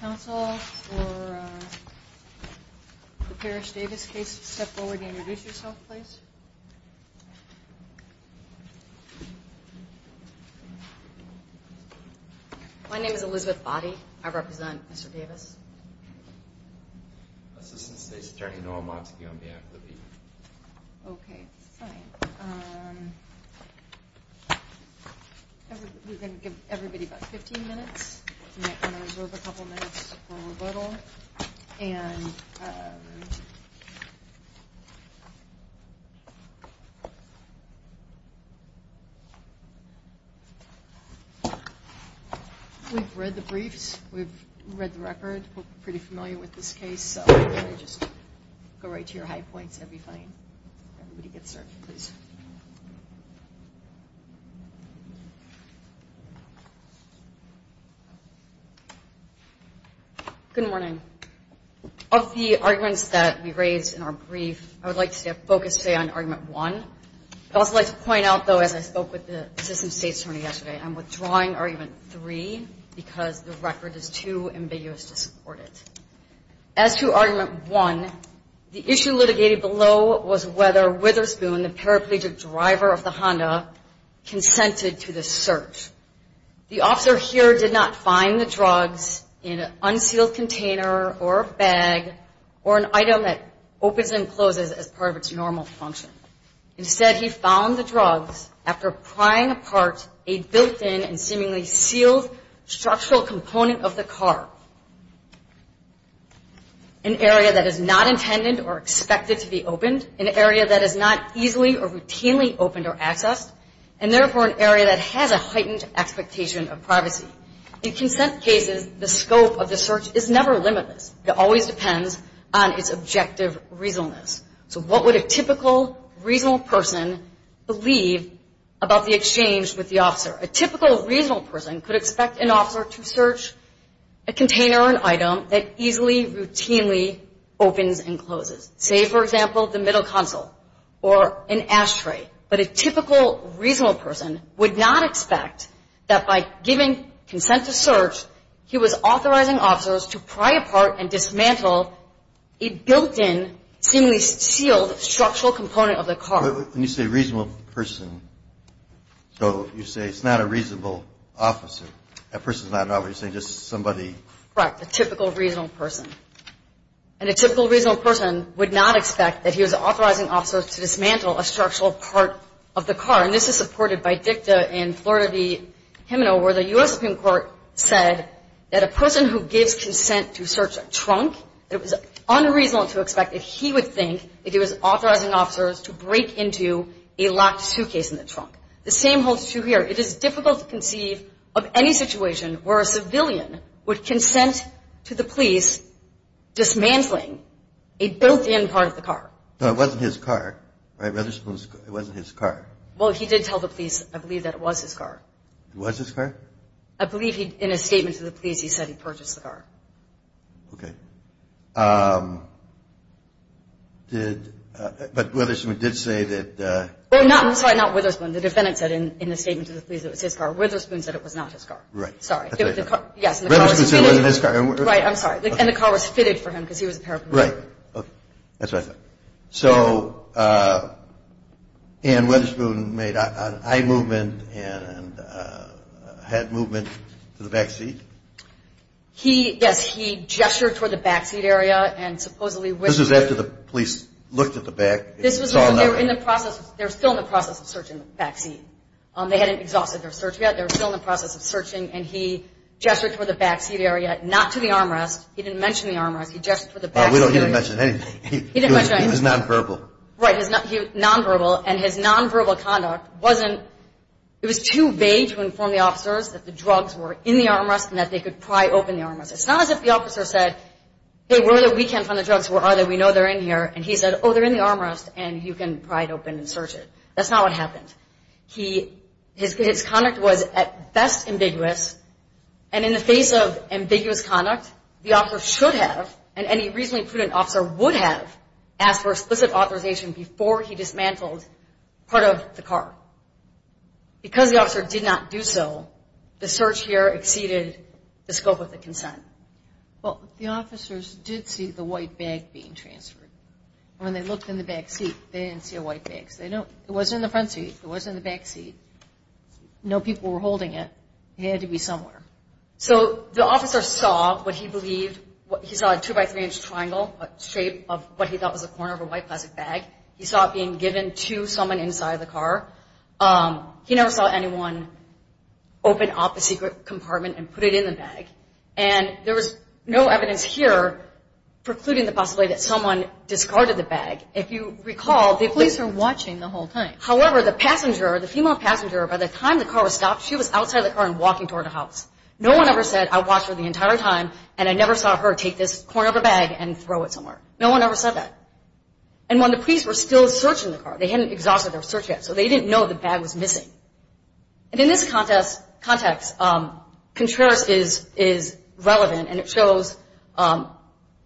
Council for the Parrish Davis case. Step forward and introduce yourself, please. My name is Elizabeth Body. I represent Mr. Davis. We're going to give everybody about 15 minutes. We're going to reserve a couple of minutes for rebuttal. And we've read the briefs. We've read the record. We're pretty familiar with this case. So if you could just go right to your high points, that would be fine. Everybody get started, please. Good morning. Of the arguments that we raised in our brief, I would like to stay focused today on argument one. I'd also like to point out, though, as I spoke with the system states attorney yesterday, I'm withdrawing argument three because the record is too ambiguous to support it. As to argument one, the issue litigated below was whether Witherspoon, the paraplegic driver of the Honda, consented to the search. The officer here did not find the drugs in an unsealed container or a bag or an item that opens and closes as part of its normal function. Instead, he found the drugs after prying apart a built-in and seemingly sealed structural component of the car. An area that is not intended or expected to be opened, an area that is not easily or routinely opened or accessed, and therefore an area that has a heightened expectation of privacy. In consent cases, the scope of the search is never limitless. It always depends on its objective reasonableness. So what would a typical, reasonable person believe about the exchange with the officer? A typical, reasonable person could expect an officer to search a container or an item that easily, routinely opens and closes. Say, for example, the middle console or an ashtray. But a typical, reasonable person would not expect that by giving consent to search, he was authorizing officers to pry apart and dismantle a built-in, seemingly sealed structural component of the car. But when you say reasonable person, so you say it's not a reasonable officer. That person's not an officer. You're saying just somebody. Correct. A typical, reasonable person. And a typical, reasonable person would not expect that he was authorizing officers to dismantle a structural part of the car. And this is supported by DICTA and Florida v. Himino, where the U.S. Supreme Court said that a person who gives consent to search a trunk, it was unreasonable to expect that he would think that he was authorizing officers to break into a locked suitcase in the trunk. The same holds true here. It is difficult to conceive of any situation where a civilian would consent to the police dismantling a built-in part of the car. No, it wasn't his car. Right? He did tell the police, I believe, that it was his car. It was his car? I believe he, in a statement to the police, he said he purchased the car. Okay. Did, but Witherspoon did say that- Well, not, I'm sorry, not Witherspoon. The defendant said in a statement to the police that it was his car. Witherspoon said it was not his car. Right. Sorry. Yes. Witherspoon said it wasn't his car. Right. I'm sorry. And the car was fitted for him because he was a paraplegic. Right. That's what I thought. So Ann Witherspoon made eye movement and had movement to the backseat? He, yes, he gestured toward the backseat area and supposedly- This was after the police looked at the back and saw nothing. This was when they were in the process, they were still in the process of searching the backseat. They hadn't exhausted their search yet. They were still in the process of searching, and he gestured toward the backseat area, not to the armrest. He didn't mention the armrest. He gestured toward the backseat area. No, we don't hear him mention anything. He didn't mention anything. He was nonverbal. Right. He was nonverbal, and his nonverbal conduct wasn't- It was too vague to inform the officers that the drugs were in the armrest and that they could pry open the armrest. It's not as if the officer said, hey, where are the weekend fund drugs? Where are they? We know they're in here. And he said, oh, they're in the armrest, and you can pry it open and search it. That's not what happened. His conduct was at best ambiguous, and in the face of ambiguous conduct, the officer should have, and any reasonably prudent officer would have, asked for explicit authorization before he dismantled part of the car. Because the officer did not do so, the search here exceeded the scope of the consent. Well, the officers did see the white bag being transferred. When they looked in the backseat, they didn't see a white bag. It wasn't in the front seat. It wasn't in the backseat. No people were holding it. It had to be somewhere. So the officer saw what he believed, he saw a 2-by-3-inch triangle, a shape of what he thought was a corner of a white plastic bag. He saw it being given to someone inside the car. He never saw anyone open up a secret compartment and put it in the bag. And there was no evidence here precluding the possibility that someone discarded the bag. If you recall, the police were watching the whole time. However, the passenger, the female passenger, by the time the car was stopped, she was outside the car and walking toward the house. No one ever said, I watched her the entire time, and I never saw her take this corner of a bag and throw it somewhere. No one ever said that. And when the police were still searching the car, they hadn't exhausted their search yet, so they didn't know the bag was missing. And in this context, Contreras is relevant, and it shows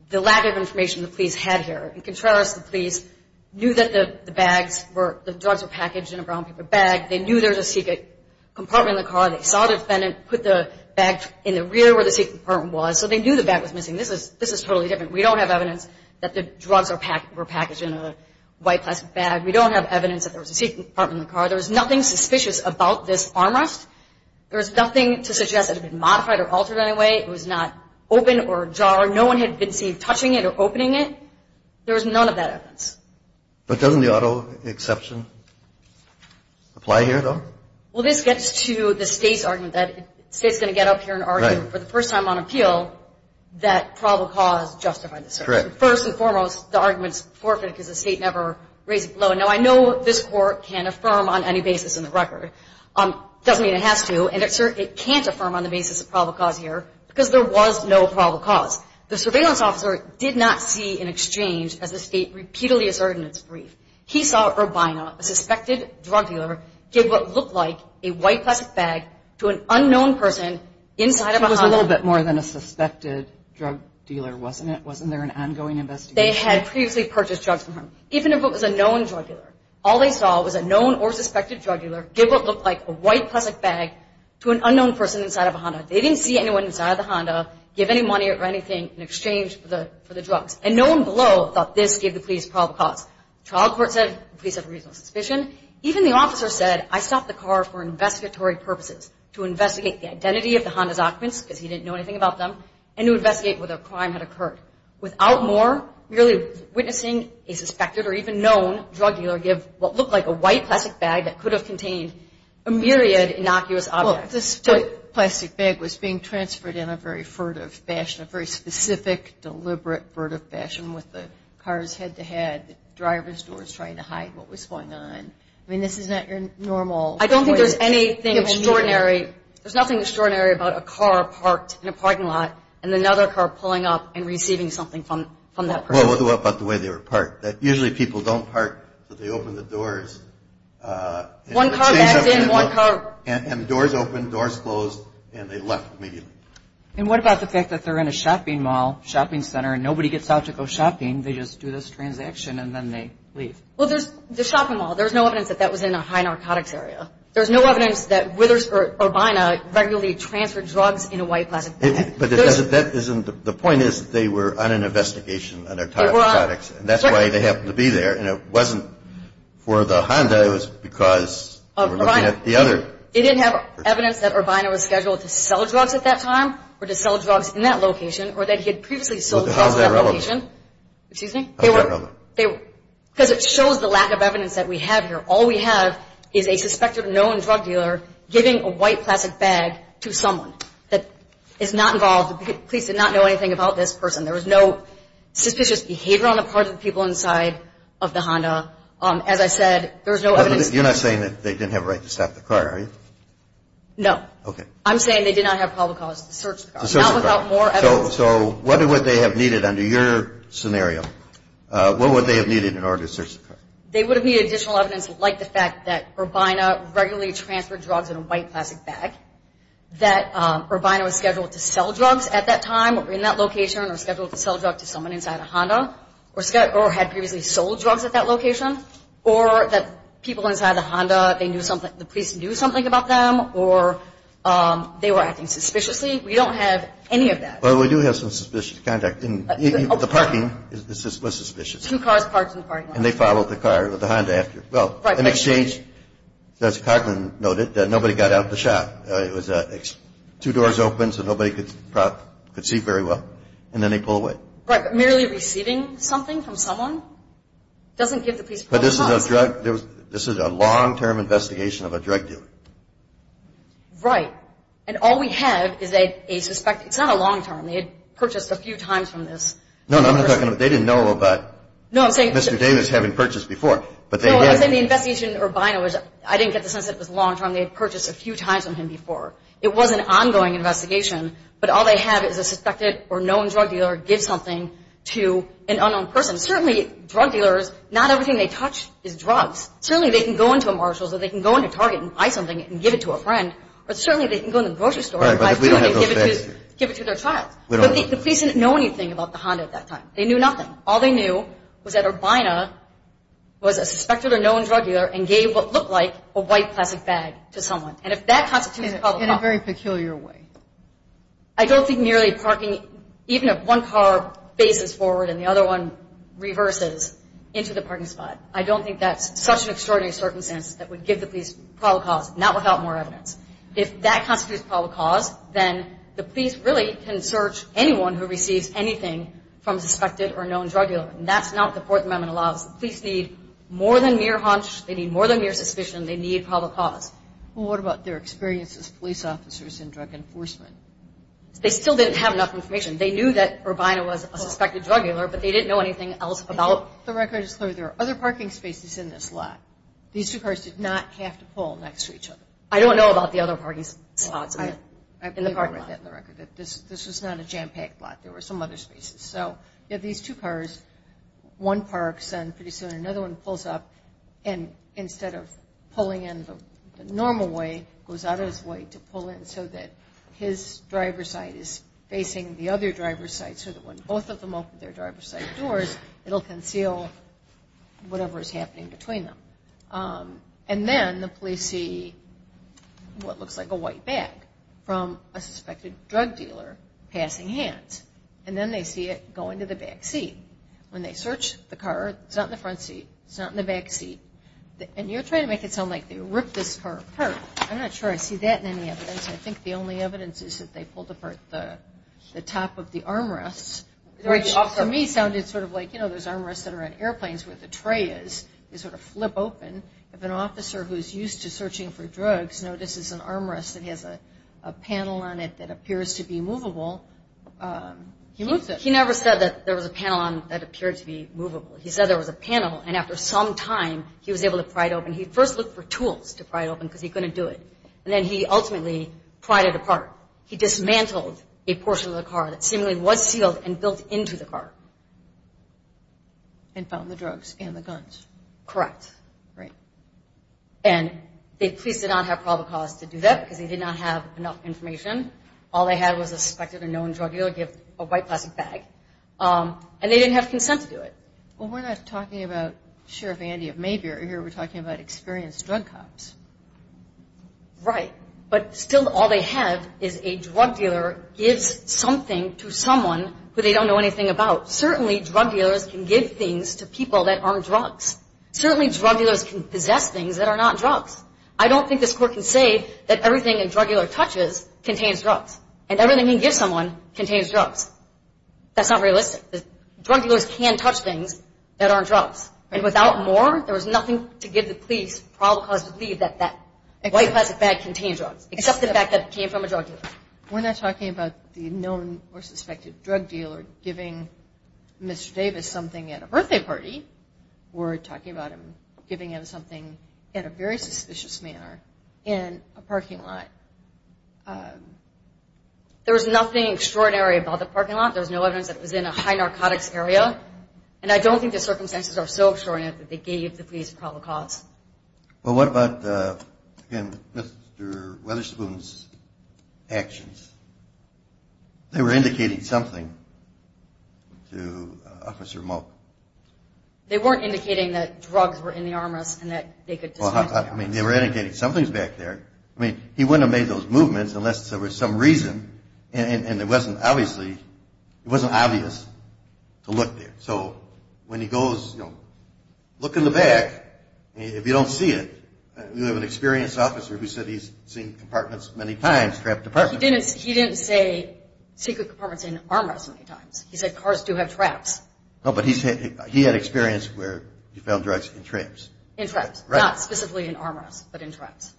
the lack of information the police had here. In Contreras, the police knew that the drugs were packaged in a brown paper bag. They knew there was a secret compartment in the car. They saw the defendant put the bag in the rear where the secret compartment was, so they knew the bag was missing. This is totally different. We don't have evidence that the drugs were packaged in a white plastic bag. We don't have evidence that there was a secret compartment in the car. There was nothing suspicious about this armrest. There was nothing to suggest it had been modified or altered in any way. It was not open or ajar. No one had been seen touching it or opening it. There was none of that evidence. But doesn't the auto exception apply here, though? Well, this gets to the State's argument that the State is going to get up here and argue for the first time on appeal that probable cause justified the search. Correct. First and foremost, the argument is forfeited because the State never raised it below. Now, I know this Court can affirm on any basis in the record. It doesn't mean it has to, and it certainly can't affirm on the basis of probable cause here because there was no probable cause. The surveillance officer did not see an exchange as the State repeatedly asserted in its brief. He saw Urbina, a suspected drug dealer, give what looked like a white plastic bag to an unknown person inside of a Honda. It was a little bit more than a suspected drug dealer, wasn't it? Wasn't there an ongoing investigation? They had previously purchased drugs from him, even if it was a known drug dealer. All they saw was a known or suspected drug dealer give what looked like a white plastic bag to an unknown person inside of a Honda. They didn't see anyone inside of the Honda give any money or anything in exchange for the drugs, and no one below thought this gave the police probable cause. The trial court said the police have a reasonable suspicion. Even the officer said, I stopped the car for investigatory purposes, to investigate the identity of the Honda documents because he didn't know anything about them and to investigate whether a crime had occurred. Without more, merely witnessing a suspected or even known drug dealer give what looked like a white plastic bag that could have contained a myriad innocuous objects. This white plastic bag was being transferred in a very furtive fashion, a very specific, deliberate, furtive fashion with the cars head-to-head, the driver's doors trying to hide what was going on. I mean, this is not your normal... I don't think there's anything extraordinary. There's nothing extraordinary about a car parked in a parking lot and another car pulling up and receiving something from that person. What about the way they were parked? Usually people don't park so they open the doors... One car backed in, one car... And the doors open, doors closed, and they left immediately. And what about the fact that they're in a shopping mall, shopping center, and nobody gets out to go shopping? They just do this transaction and then they leave. Well, there's the shopping mall. There's no evidence that that was in a high narcotics area. There's no evidence that Withersburg Urbina regularly transferred drugs in a white plastic bag. But that isn't... The point is that they were on an investigation on narcotics. They were on... And that's why they happened to be there, and it wasn't for the Honda. It was because they were looking at the other... They didn't have evidence that Urbina was scheduled to sell drugs at that time or to sell drugs in that location or that he had previously sold drugs at that location. How is that relevant? Excuse me? How is that relevant? Because it shows the lack of evidence that we have here. All we have is a suspected known drug dealer giving a white plastic bag to someone that is not involved. The police did not know anything about this person. There was no suspicious behavior on the part of the people inside of the Honda. As I said, there was no evidence... No. Okay. I'm saying they did not have probable cause to search the car. To search the car. Not without more evidence. So what would they have needed under your scenario? What would they have needed in order to search the car? They would have needed additional evidence like the fact that Urbina regularly transferred drugs in a white plastic bag, that Urbina was scheduled to sell drugs at that time or in that location or scheduled to sell drugs to someone inside a Honda or had previously sold drugs at that location, or that people inside the Honda, the police knew something about them or they were acting suspiciously. We don't have any of that. Well, we do have some suspicious conduct. The parking was suspicious. Two cars parked in the parking lot. And they followed the car, the Honda after. Well, in exchange, as Coughlin noted, nobody got out of the shop. It was two doors open so nobody could see very well, and then they pull away. Right. But merely receiving something from someone doesn't give the police proper cause. But this is a drug. This is a long-term investigation of a drug dealer. Right. And all we have is a suspect. It's not a long-term. They had purchased a few times from this person. No, no. They didn't know about Mr. Davis having purchased before. No, I'm saying the investigation Urbina was, I didn't get the sense it was long-term. They had purchased a few times from him before. It was an ongoing investigation. But all they have is a suspected or known drug dealer give something to an unknown person. Certainly, drug dealers, not everything they touch is drugs. Certainly, they can go into a Marshall's or they can go into Target and buy something and give it to a friend. But certainly, they can go into the grocery store and buy something and give it to their child. But the police didn't know anything about the Honda at that time. They knew nothing. All they knew was that Urbina was a suspected or known drug dealer and gave what looked like a white plastic bag to someone. In a very peculiar way. I don't think merely parking, even if one car faces forward and the other one reverses into the parking spot, I don't think that's such an extraordinary circumstance that would give the police probable cause, not without more evidence. If that constitutes probable cause, then the police really can search anyone who receives anything from a suspected or known drug dealer. And that's not what the Fourth Amendment allows. The police need more than mere hunch. They need more than mere suspicion. They need probable cause. Well, what about their experience as police officers in drug enforcement? They still didn't have enough information. They knew that Urbina was a suspected drug dealer, but they didn't know anything else about it. The record is clear. There are other parking spaces in this lot. These two cars did not have to pull next to each other. I don't know about the other parking spots in the parking lot. I believe I read that in the record, that this was not a jam-packed lot. There were some other spaces. So you have these two cars. One parks and pretty soon another one pulls up. And instead of pulling in the normal way, goes out of his way to pull in so that his driver's side is facing the other driver's side, so that when both of them open their driver's side doors, it will conceal whatever is happening between them. And then the police see what looks like a white bag from a suspected drug dealer passing hands. And then they see it going to the back seat. When they search the car, it's not in the front seat. It's not in the back seat. And you're trying to make it sound like they ripped this car apart. I'm not sure I see that in any evidence. I think the only evidence is that they pulled apart the top of the armrests, which to me sounded sort of like, you know, those armrests that are on airplanes where the tray is. They sort of flip open. If an officer who's used to searching for drugs notices an armrest that has a panel on it that appears to be movable, he moves it. He never said that there was a panel on it that appeared to be movable. He said there was a panel, and after some time, he was able to pry it open. He first looked for tools to pry it open because he couldn't do it. And then he ultimately pried it apart. He dismantled a portion of the car that seemingly was sealed and built into the car. And found the drugs and the guns. Correct. Right. And the police did not have probable cause to do that because they did not have enough information. All they had was a suspected or known drug dealer give a white plastic bag. And they didn't have consent to do it. Well, we're not talking about Sheriff Andy of Maybury here. We're talking about experienced drug cops. Right. But still all they have is a drug dealer gives something to someone who they don't know anything about. Certainly drug dealers can give things to people that aren't drugs. Certainly drug dealers can possess things that are not drugs. I don't think this court can say that everything a drug dealer touches contains drugs. And everything he gives someone contains drugs. That's not realistic. Drug dealers can touch things that aren't drugs. And without more, there was nothing to give the police probable cause to believe that that white plastic bag contained drugs. Except the fact that it came from a drug dealer. We're not talking about the known or suspected drug dealer giving Mr. Davis something at a birthday party. We're talking about him giving him something in a very suspicious manner in a parking lot. There was nothing extraordinary about the parking lot. There was no evidence that it was in a high narcotics area. And I don't think the circumstances are so extraordinary that they gave the police probable cause. Well, what about, again, Mr. Weatherspoon's actions? They were indicating something to Officer Moak. They weren't indicating that drugs were in the armrest and that they could dismantle the armrest. I mean, they were indicating something's back there. I mean, he wouldn't have made those movements unless there was some reason. And it wasn't obvious to look there. So when he goes, you know, look in the back. If you don't see it, you have an experienced officer who said he's seen compartments many times, trap departments. He didn't say secret compartments in armrests many times. He said cars do have traps. No, but he had experience where he found drugs in traps. In traps. Right. Not specifically in armrests, but in traps.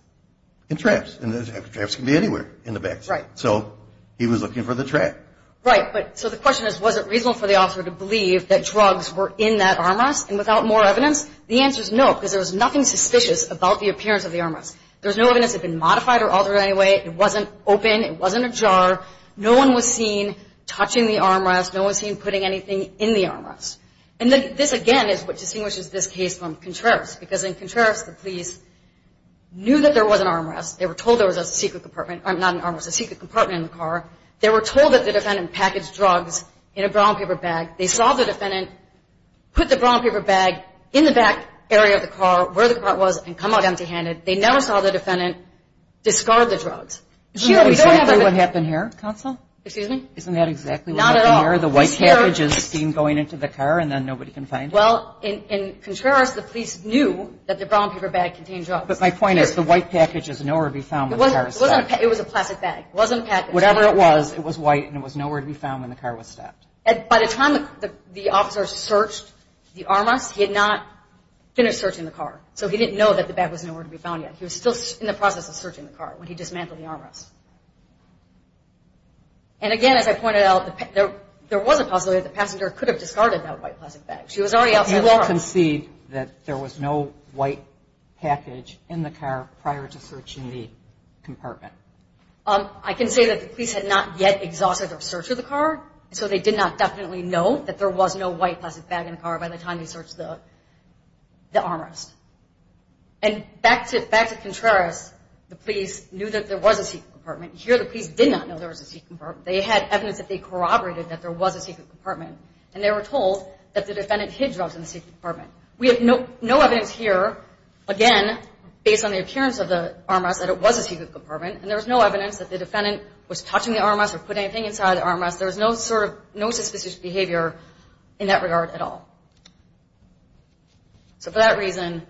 In traps. And traps can be anywhere in the back. Right. So he was looking for the trap. Right. So the question is, was it reasonable for the officer to believe that drugs were in that armrest and without more evidence? The answer is no, because there was nothing suspicious about the appearance of the armrest. There was no evidence it had been modified or altered in any way. It wasn't open. It wasn't ajar. No one was seen touching the armrest. No one was seen putting anything in the armrest. And this, again, is what distinguishes this case from Contreras. Because in Contreras, the police knew that there was an armrest. They were told there was a secret compartment or not an armrest, a secret compartment in the car. They were told that the defendant packaged drugs in a brown paper bag. They saw the defendant put the brown paper bag in the back area of the car where the car was and come out empty-handed. They never saw the defendant discard the drugs. Isn't that exactly what happened here, Counsel? Excuse me? Isn't that exactly what happened here? Not at all. In Contreras, the white package is seen going into the car, and then nobody can find it? Well, in Contreras, the police knew that the brown paper bag contained drugs. But my point is the white package is nowhere to be found when the car was stopped. It was a plastic bag. It wasn't packaged. Whatever it was, it was white, and it was nowhere to be found when the car was stopped. By the time the officer searched the armrest, he had not finished searching the car, so he didn't know that the bag was nowhere to be found yet. He was still in the process of searching the car when he dismantled the armrest. And, again, as I pointed out, there was a possibility that the passenger could have discarded that white plastic bag. She was already outside the car. You all concede that there was no white package in the car prior to searching the compartment? I can say that the police had not yet exhausted their search of the car, so they did not definitely know that there was no white plastic bag in the car by the time they searched the armrest. And back to Contreras, the police knew that there was a secret compartment. Here, the police did not know there was a secret compartment. They had evidence that they corroborated that there was a secret compartment, and they were told that the defendant hid drugs in the secret compartment. We have no evidence here, again, based on the appearance of the armrest, that it was a secret compartment, and there was no evidence that the defendant was touching the armrest or put anything inside the armrest. There was no suspicious behavior in that regard at all. So for that reason,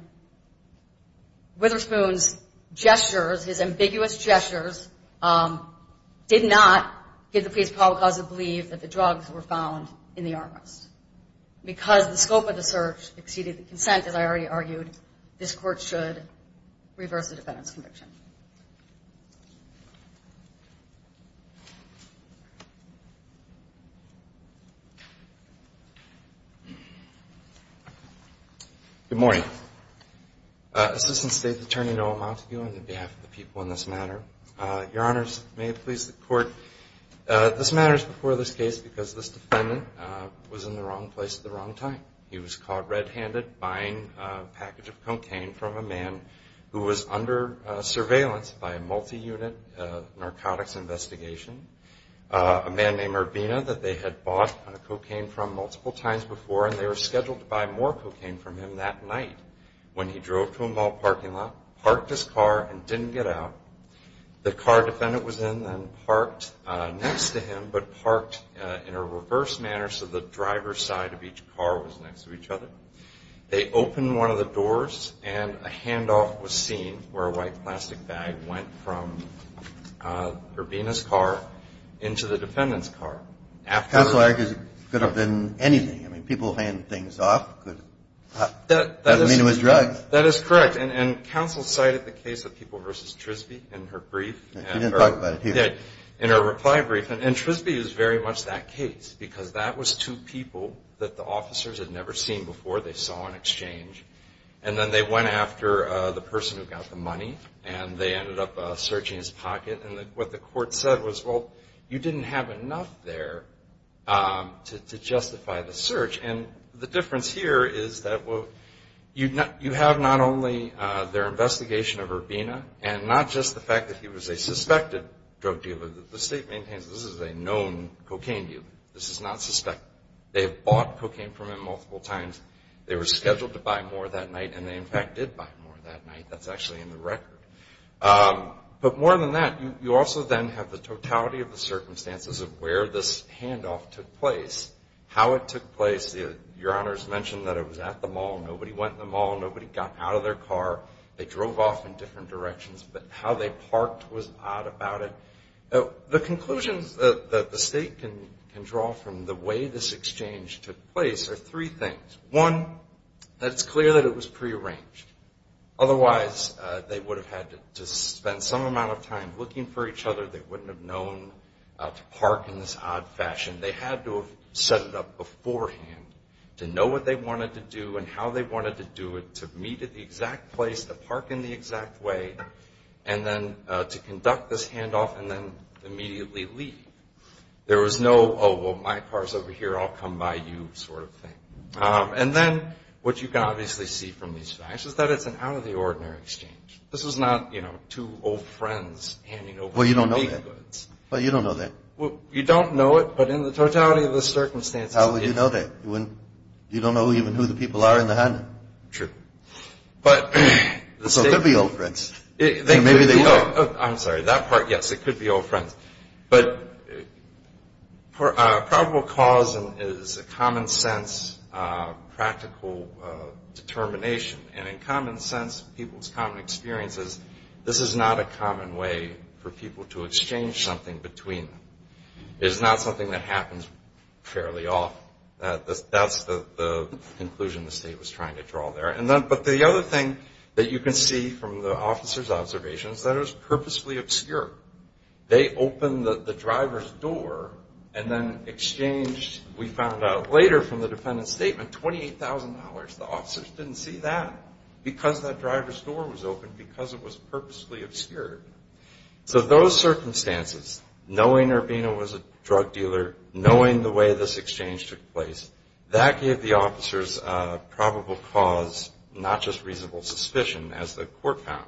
Witherspoon's gestures, his ambiguous gestures, did not give the police probable cause to believe that the drugs were found in the armrest. Because the scope of the search exceeded the consent, as I already argued, this Court should reverse the defendant's conviction. Thank you. Good morning. Assistant State Attorney Noah Montague on behalf of the people in this matter. Your Honors, may it please the Court, this matter is before this case because this defendant was in the wrong place at the wrong time. He was caught red-handed buying a package of cocaine from a man who was under surveillance by a multi-unit narcotics investigation. A man named Urbina that they had bought cocaine from multiple times before, and they were scheduled to buy more cocaine from him that night when he drove to a mall parking lot, parked his car, and didn't get out. The car the defendant was in then parked next to him, but parked in a reverse manner so the driver's side of each car was next to each other. They opened one of the doors and a handoff was seen where a white plastic bag went from Urbina's car into the defendant's car. Counsel argues it could have been anything. I mean, people hand things off. That doesn't mean it was drugs. That is correct. And counsel cited the case of People v. Trisbee in her brief. She didn't talk about it here. In her reply brief. And Trisbee is very much that case because that was two people that the officers had never seen before. They saw an exchange. And then they went after the person who got the money, and they ended up searching his pocket. And what the court said was, well, you didn't have enough there to justify the search. And the difference here is that you have not only their investigation of Urbina and not just the fact that he was a suspected drug dealer. The state maintains this is a known cocaine dealer. This is not suspected. They have bought cocaine from him multiple times. They were scheduled to buy more that night, and they, in fact, did buy more that night. That's actually in the record. But more than that, you also then have the totality of the circumstances of where this handoff took place, how it took place. Your Honors mentioned that it was at the mall. Nobody went in the mall. Nobody got out of their car. They drove off in different directions. But how they parked was odd about it. The conclusions that the state can draw from the way this exchange took place are three things. One, that it's clear that it was prearranged. Otherwise, they would have had to spend some amount of time looking for each other. They wouldn't have known to park in this odd fashion. They had to have set it up beforehand to know what they wanted to do and how they wanted to do it, to meet at the exact place, to park in the exact way, and then to conduct this handoff and then immediately leave. There was no, oh, well, my car's over here. I'll come by you sort of thing. And then what you can obviously see from these facts is that it's an out-of-the-ordinary exchange. This was not, you know, two old friends handing over unique goods. Well, you don't know that. Well, you don't know that. Well, you don't know it, but in the totality of the circumstances. How would you know that? You don't know even who the people are in the handoff. True. So it could be old friends. Maybe they were. I'm sorry. That part, yes, it could be old friends. But probable cause is a common-sense, practical determination. And in common sense, people's common experience is this is not a common way for people to exchange something between them. It's not something that happens fairly often. That's the conclusion the State was trying to draw there. But the other thing that you can see from the officers' observations is that it was purposefully obscure. They opened the driver's door and then exchanged, we found out later from the defendant's statement, $28,000. The officers didn't see that because that driver's door was open, because it was purposefully obscure. So those circumstances, knowing Urbino was a drug dealer, knowing the way this exchange took place, that gave the officers probable cause, not just reasonable suspicion, as the court found.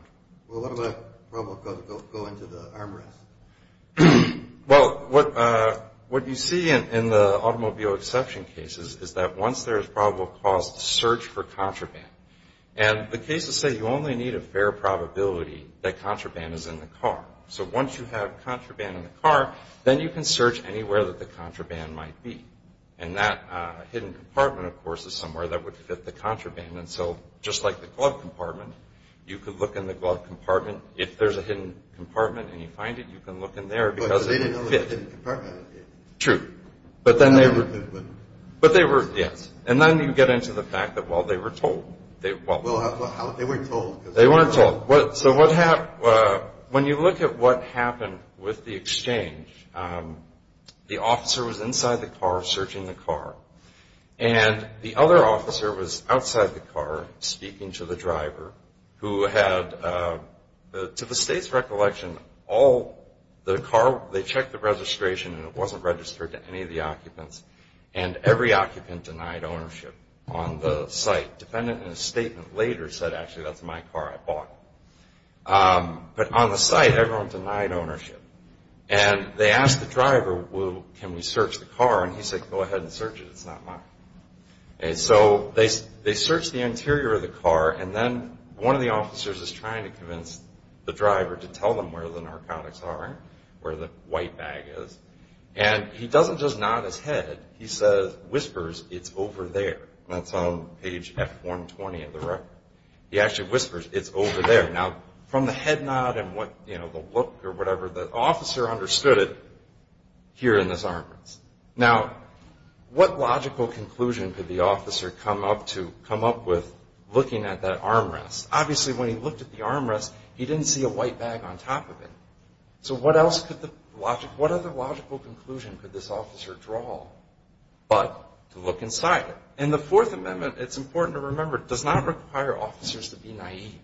Well, what about the problem of going to the arm rest? Well, what you see in the automobile exception cases is that once there is probable cause, the search for contraband. And the cases say you only need a fair probability that contraband is in the car. So once you have contraband in the car, then you can search anywhere that the contraband might be. And that hidden compartment, of course, is somewhere that would fit the contraband. And so just like the glove compartment, you could look in the glove compartment. If there's a hidden compartment and you find it, you can look in there because it didn't fit. But they didn't know the hidden compartment. True. But they were, yes. And then you get into the fact that, well, they were told. Well, they weren't told. They weren't told. So when you look at what happened with the exchange, the officer was inside the car searching the car. And the other officer was outside the car speaking to the driver who had, to the State's recollection, all the car, they checked the registration, and it wasn't registered to any of the occupants. And every occupant denied ownership on the site. A defendant in a statement later said, actually, that's my car. I bought it. But on the site, everyone denied ownership. And they asked the driver, can we search the car? And he said, go ahead and search it. It's not mine. And so they searched the interior of the car. And then one of the officers is trying to convince the driver to tell them where the narcotics are, where the white bag is. And he doesn't just nod his head. He says, whispers, it's over there. That's on page F120 of the record. He actually whispers, it's over there. Now, from the head nod and the look or whatever, the officer understood it here in this armrest. Now, what logical conclusion could the officer come up with looking at that armrest? Obviously, when he looked at the armrest, he didn't see a white bag on top of it. So what other logical conclusion could this officer draw but to look inside it? And the Fourth Amendment, it's important to remember, does not require officers to be naive.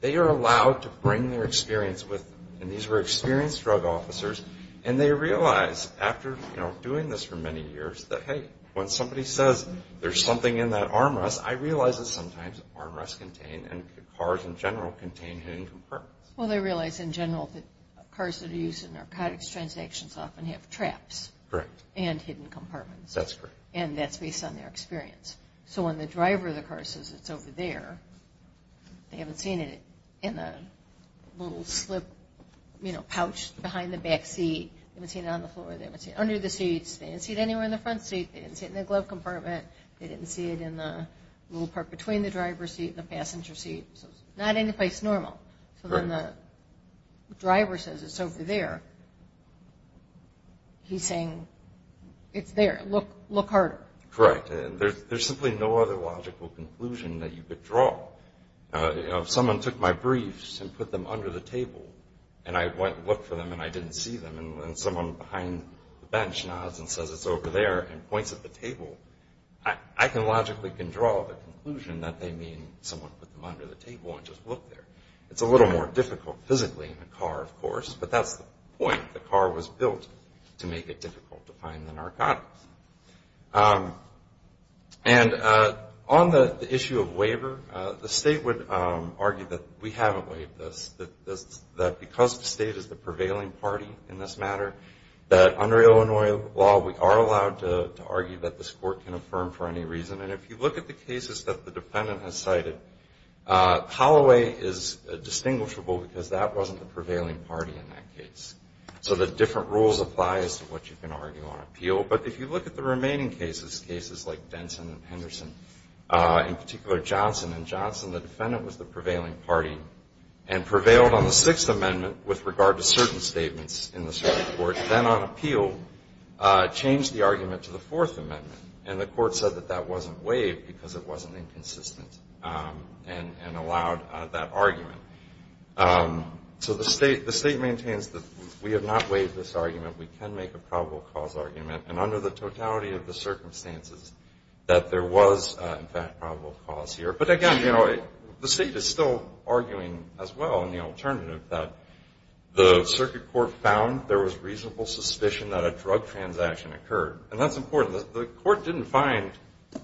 They are allowed to bring their experience with them. And these were experienced drug officers. And they realized, after doing this for many years, that hey, when somebody says there's something in that armrest, I realize that sometimes armrests contain and cars in general contain hidden components. Well, they realize in general that cars that are used in narcotics transactions often have traps. Correct. And hidden compartments. That's correct. And that's based on their experience. So when the driver of the car says it's over there, they haven't seen it in the little slip, you know, pouch behind the back seat. They haven't seen it on the floor. They haven't seen it under the seats. They haven't seen it anywhere in the front seat. They haven't seen it in the glove compartment. They didn't see it in the little part between the driver's seat and the passenger seat. So it's not any place normal. So when the driver says it's over there, he's saying it's there. Look harder. Correct. And there's simply no other logical conclusion that you could draw. You know, if someone took my briefs and put them under the table, and I went and looked for them and I didn't see them, and someone behind the bench nods and says it's over there and points at the table, I can logically draw the conclusion that they mean someone put them under the table and just looked there. It's a little more difficult physically in a car, of course, but that's the point. The car was built to make it difficult to find the narcotics. And on the issue of waiver, the state would argue that we haven't waived this, that because the state is the prevailing party in this matter, that under Illinois law, we are allowed to argue that this court can affirm for any reason. And if you look at the cases that the defendant has cited, Holloway is distinguishable because that wasn't the prevailing party in that case. So the different rules apply as to what you can argue on appeal. But if you look at the remaining cases, cases like Denson and Henderson, in particular Johnson and Johnson, the defendant was the prevailing party and prevailed on the Sixth Amendment with regard to certain statements in this court. Then on appeal, changed the argument to the Fourth Amendment, and the court said that that wasn't waived because it wasn't inconsistent and allowed that argument. So the state maintains that we have not waived this argument. We can make a probable cause argument, and under the totality of the circumstances that there was, in fact, probable cause here. But, again, you know, the state is still arguing as well in the alternative that the circuit court found there was reasonable suspicion that a drug transaction occurred. And that's important. The court didn't find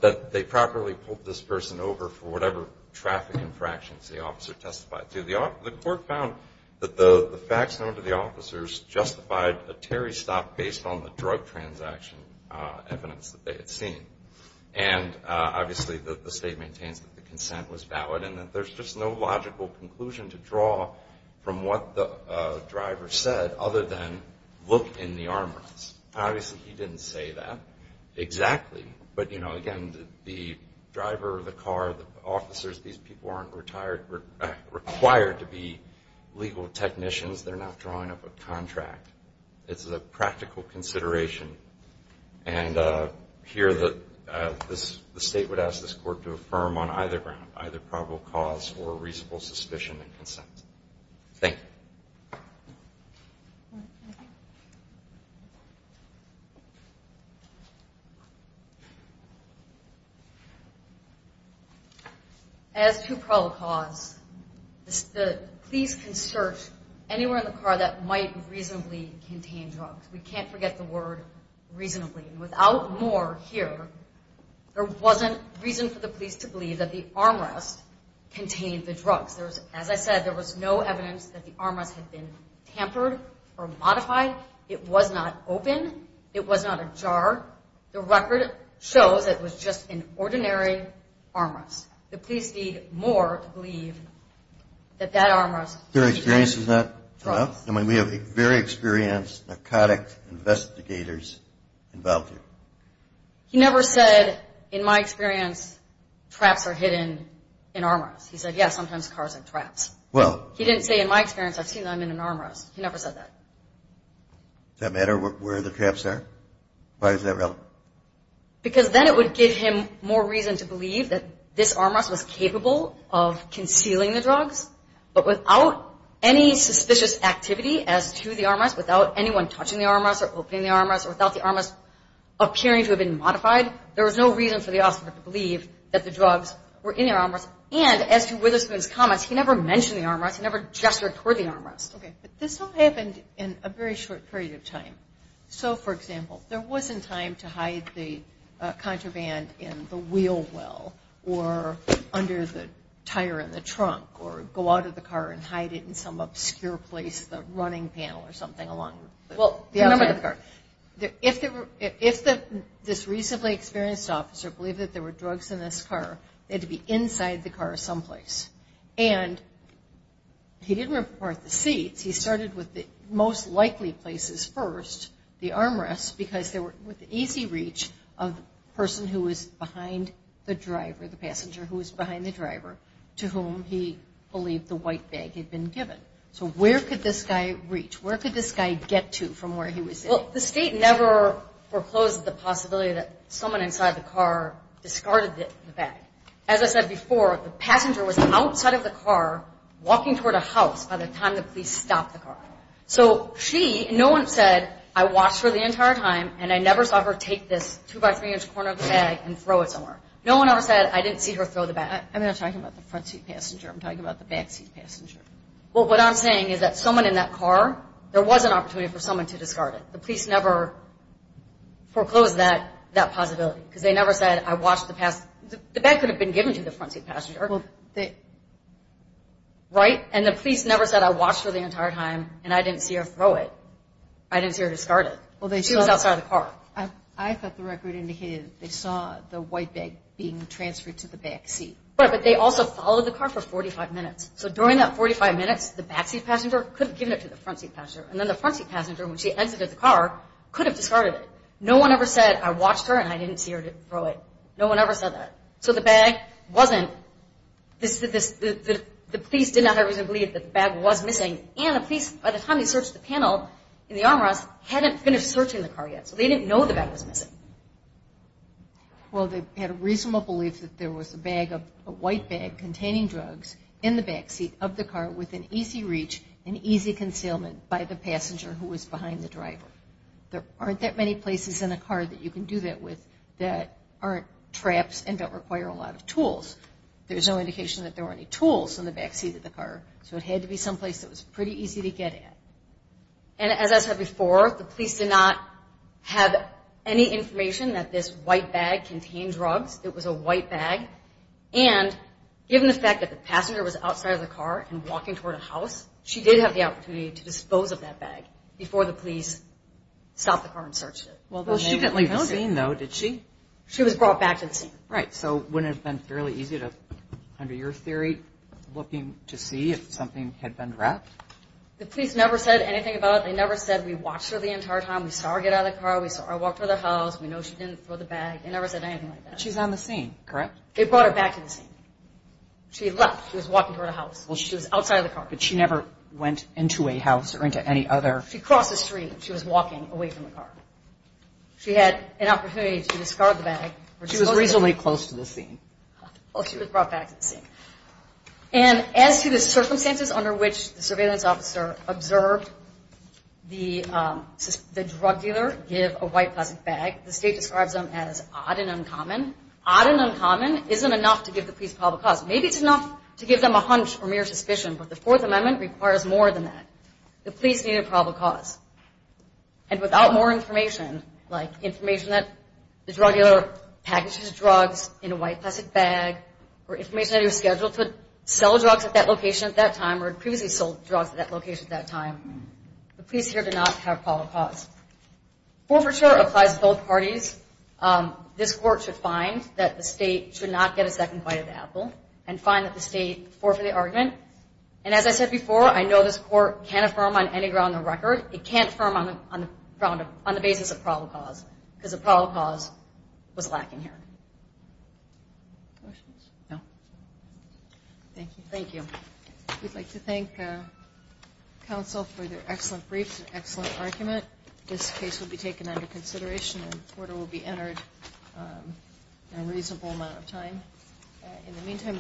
that they properly pulled this person over for whatever traffic infractions the officer testified to. The court found that the facts known to the officers justified a Terry stop based on the drug transaction evidence that they had seen. And, obviously, the state maintains that the consent was valid and that there's just no logical conclusion to draw from what the driver said other than look in the armrests. Obviously, he didn't say that exactly. But, you know, again, the driver, the car, the officers, these people aren't required to be legal technicians. They're not drawing up a contract. It's a practical consideration. And here the state would ask this court to affirm on either ground, either probable cause or reasonable suspicion and consent. Thank you. As to probable cause, please can search anywhere in the car that might reasonably contain drugs. We can't forget the word reasonably. And without more here, there wasn't reason for the police to believe that the armrest contained the drugs. As I said, there was no evidence that the armrest had been tampered or modified. It was not open. It was not a jar. The record shows it was just an ordinary armrest. The police need more to believe that that armrest contained drugs. Your experience is that, and we have very experienced narcotic investigators involved here. He never said, in my experience, traps are hidden in armrests. He said, yes, sometimes cars have traps. He didn't say, in my experience, I've seen them in an armrest. He never said that. Does that matter where the traps are? Why is that relevant? Because then it would give him more reason to believe that this armrest was capable of concealing the drugs. But without any suspicious activity as to the armrest, without anyone touching the armrest or opening the armrest, or without the armrest appearing to have been modified, there was no reason for the officer to believe that the drugs were in the armrest. And as to Witherspoon's comments, he never mentioned the armrest. He never gestured toward the armrest. Okay, but this all happened in a very short period of time. So, for example, there wasn't time to hide the contraband in the wheel well or under the tire in the trunk or go out of the car and hide it in some obscure place, the running panel or something along the outside of the car. If this recently experienced officer believed that there were drugs in this car, they had to be inside the car someplace. And he didn't report the seats. He started with the most likely places first, the armrests, because they were with easy reach of the person who was behind the driver, the passenger who was behind the driver, to whom he believed the white bag had been given. So where could this guy reach? Where could this guy get to from where he was sitting? Well, the state never foreclosed the possibility that someone inside the car discarded the bag. As I said before, the passenger was outside of the car walking toward a house by the time the police stopped the car. So she, no one said, I watched her the entire time, and I never saw her take this 2-by-3-inch corner of the bag and throw it somewhere. No one ever said, I didn't see her throw the bag. I'm not talking about the front seat passenger. I'm talking about the back seat passenger. Well, what I'm saying is that someone in that car, there was an opportunity for someone to discard it. The police never foreclosed that possibility because they never said, I watched the past. The bag could have been given to the front seat passenger. Right? And the police never said, I watched her the entire time, and I didn't see her throw it. I didn't see her discard it. She was outside of the car. I thought the record indicated they saw the white bag being transferred to the back seat. Right, but they also followed the car for 45 minutes. So during that 45 minutes, the back seat passenger could have given it to the front seat passenger. And then the front seat passenger, when she exited the car, could have discarded it. No one ever said, I watched her, and I didn't see her throw it. No one ever said that. So the bag wasn't, the police did not have a reason to believe that the bag was missing. And the police, by the time they searched the panel in the armrest, hadn't finished searching the car yet. So they didn't know the bag was missing. Well, they had a reasonable belief that there was a bag, a white bag, containing drugs in the back seat of the car with an easy reach and easy concealment by the passenger who was behind the driver. There aren't that many places in a car that you can do that with that aren't traps and don't require a lot of tools. There's no indication that there were any tools in the back seat of the car. So it had to be someplace that was pretty easy to get at. And as I said before, the police did not have any information that this white bag contained drugs. It was a white bag. And given the fact that the passenger was outside of the car and walking toward a house, she did have the opportunity to dispose of that bag before the police stopped the car and searched it. Well, she didn't leave the scene, though, did she? She was brought back to the scene. Right, so wouldn't it have been fairly easy to, under your theory, looking to see if something had been wrapped? The police never said anything about it. They never said we watched her the entire time. We saw her get out of the car. We saw her walk toward the house. We know she didn't throw the bag. They never said anything like that. But she's on the scene, correct? They brought her back to the scene. She left. She was walking toward a house. She was outside of the car. But she never went into a house or into any other. She crossed the street. She was walking away from the car. She had an opportunity to discard the bag. She was reasonably close to the scene. Well, she was brought back to the scene. And as to the circumstances under which the surveillance officer observed the drug dealer give a white plastic bag, the state describes them as odd and uncommon. Odd and uncommon isn't enough to give the police probable cause. Maybe it's enough to give them a hunch or mere suspicion. But the Fourth Amendment requires more than that. The police need a probable cause. And without more information, like information that the drug dealer packaged his drugs in a white plastic bag or information that he was scheduled to sell drugs at that location at that time or had previously sold drugs at that location at that time, the police here do not have probable cause. Forfeiture applies to both parties. This court should find that the state should not get a second bite of the apple and find that the state forfeited the argument. And as I said before, I know this court can't affirm on any ground on the record. It can't affirm on the basis of probable cause because a probable cause was lacking here. Questions? No. Thank you. We'd like to thank counsel for their excellent briefs and excellent argument. This case will be taken under consideration and an order will be entered in a reasonable amount of time.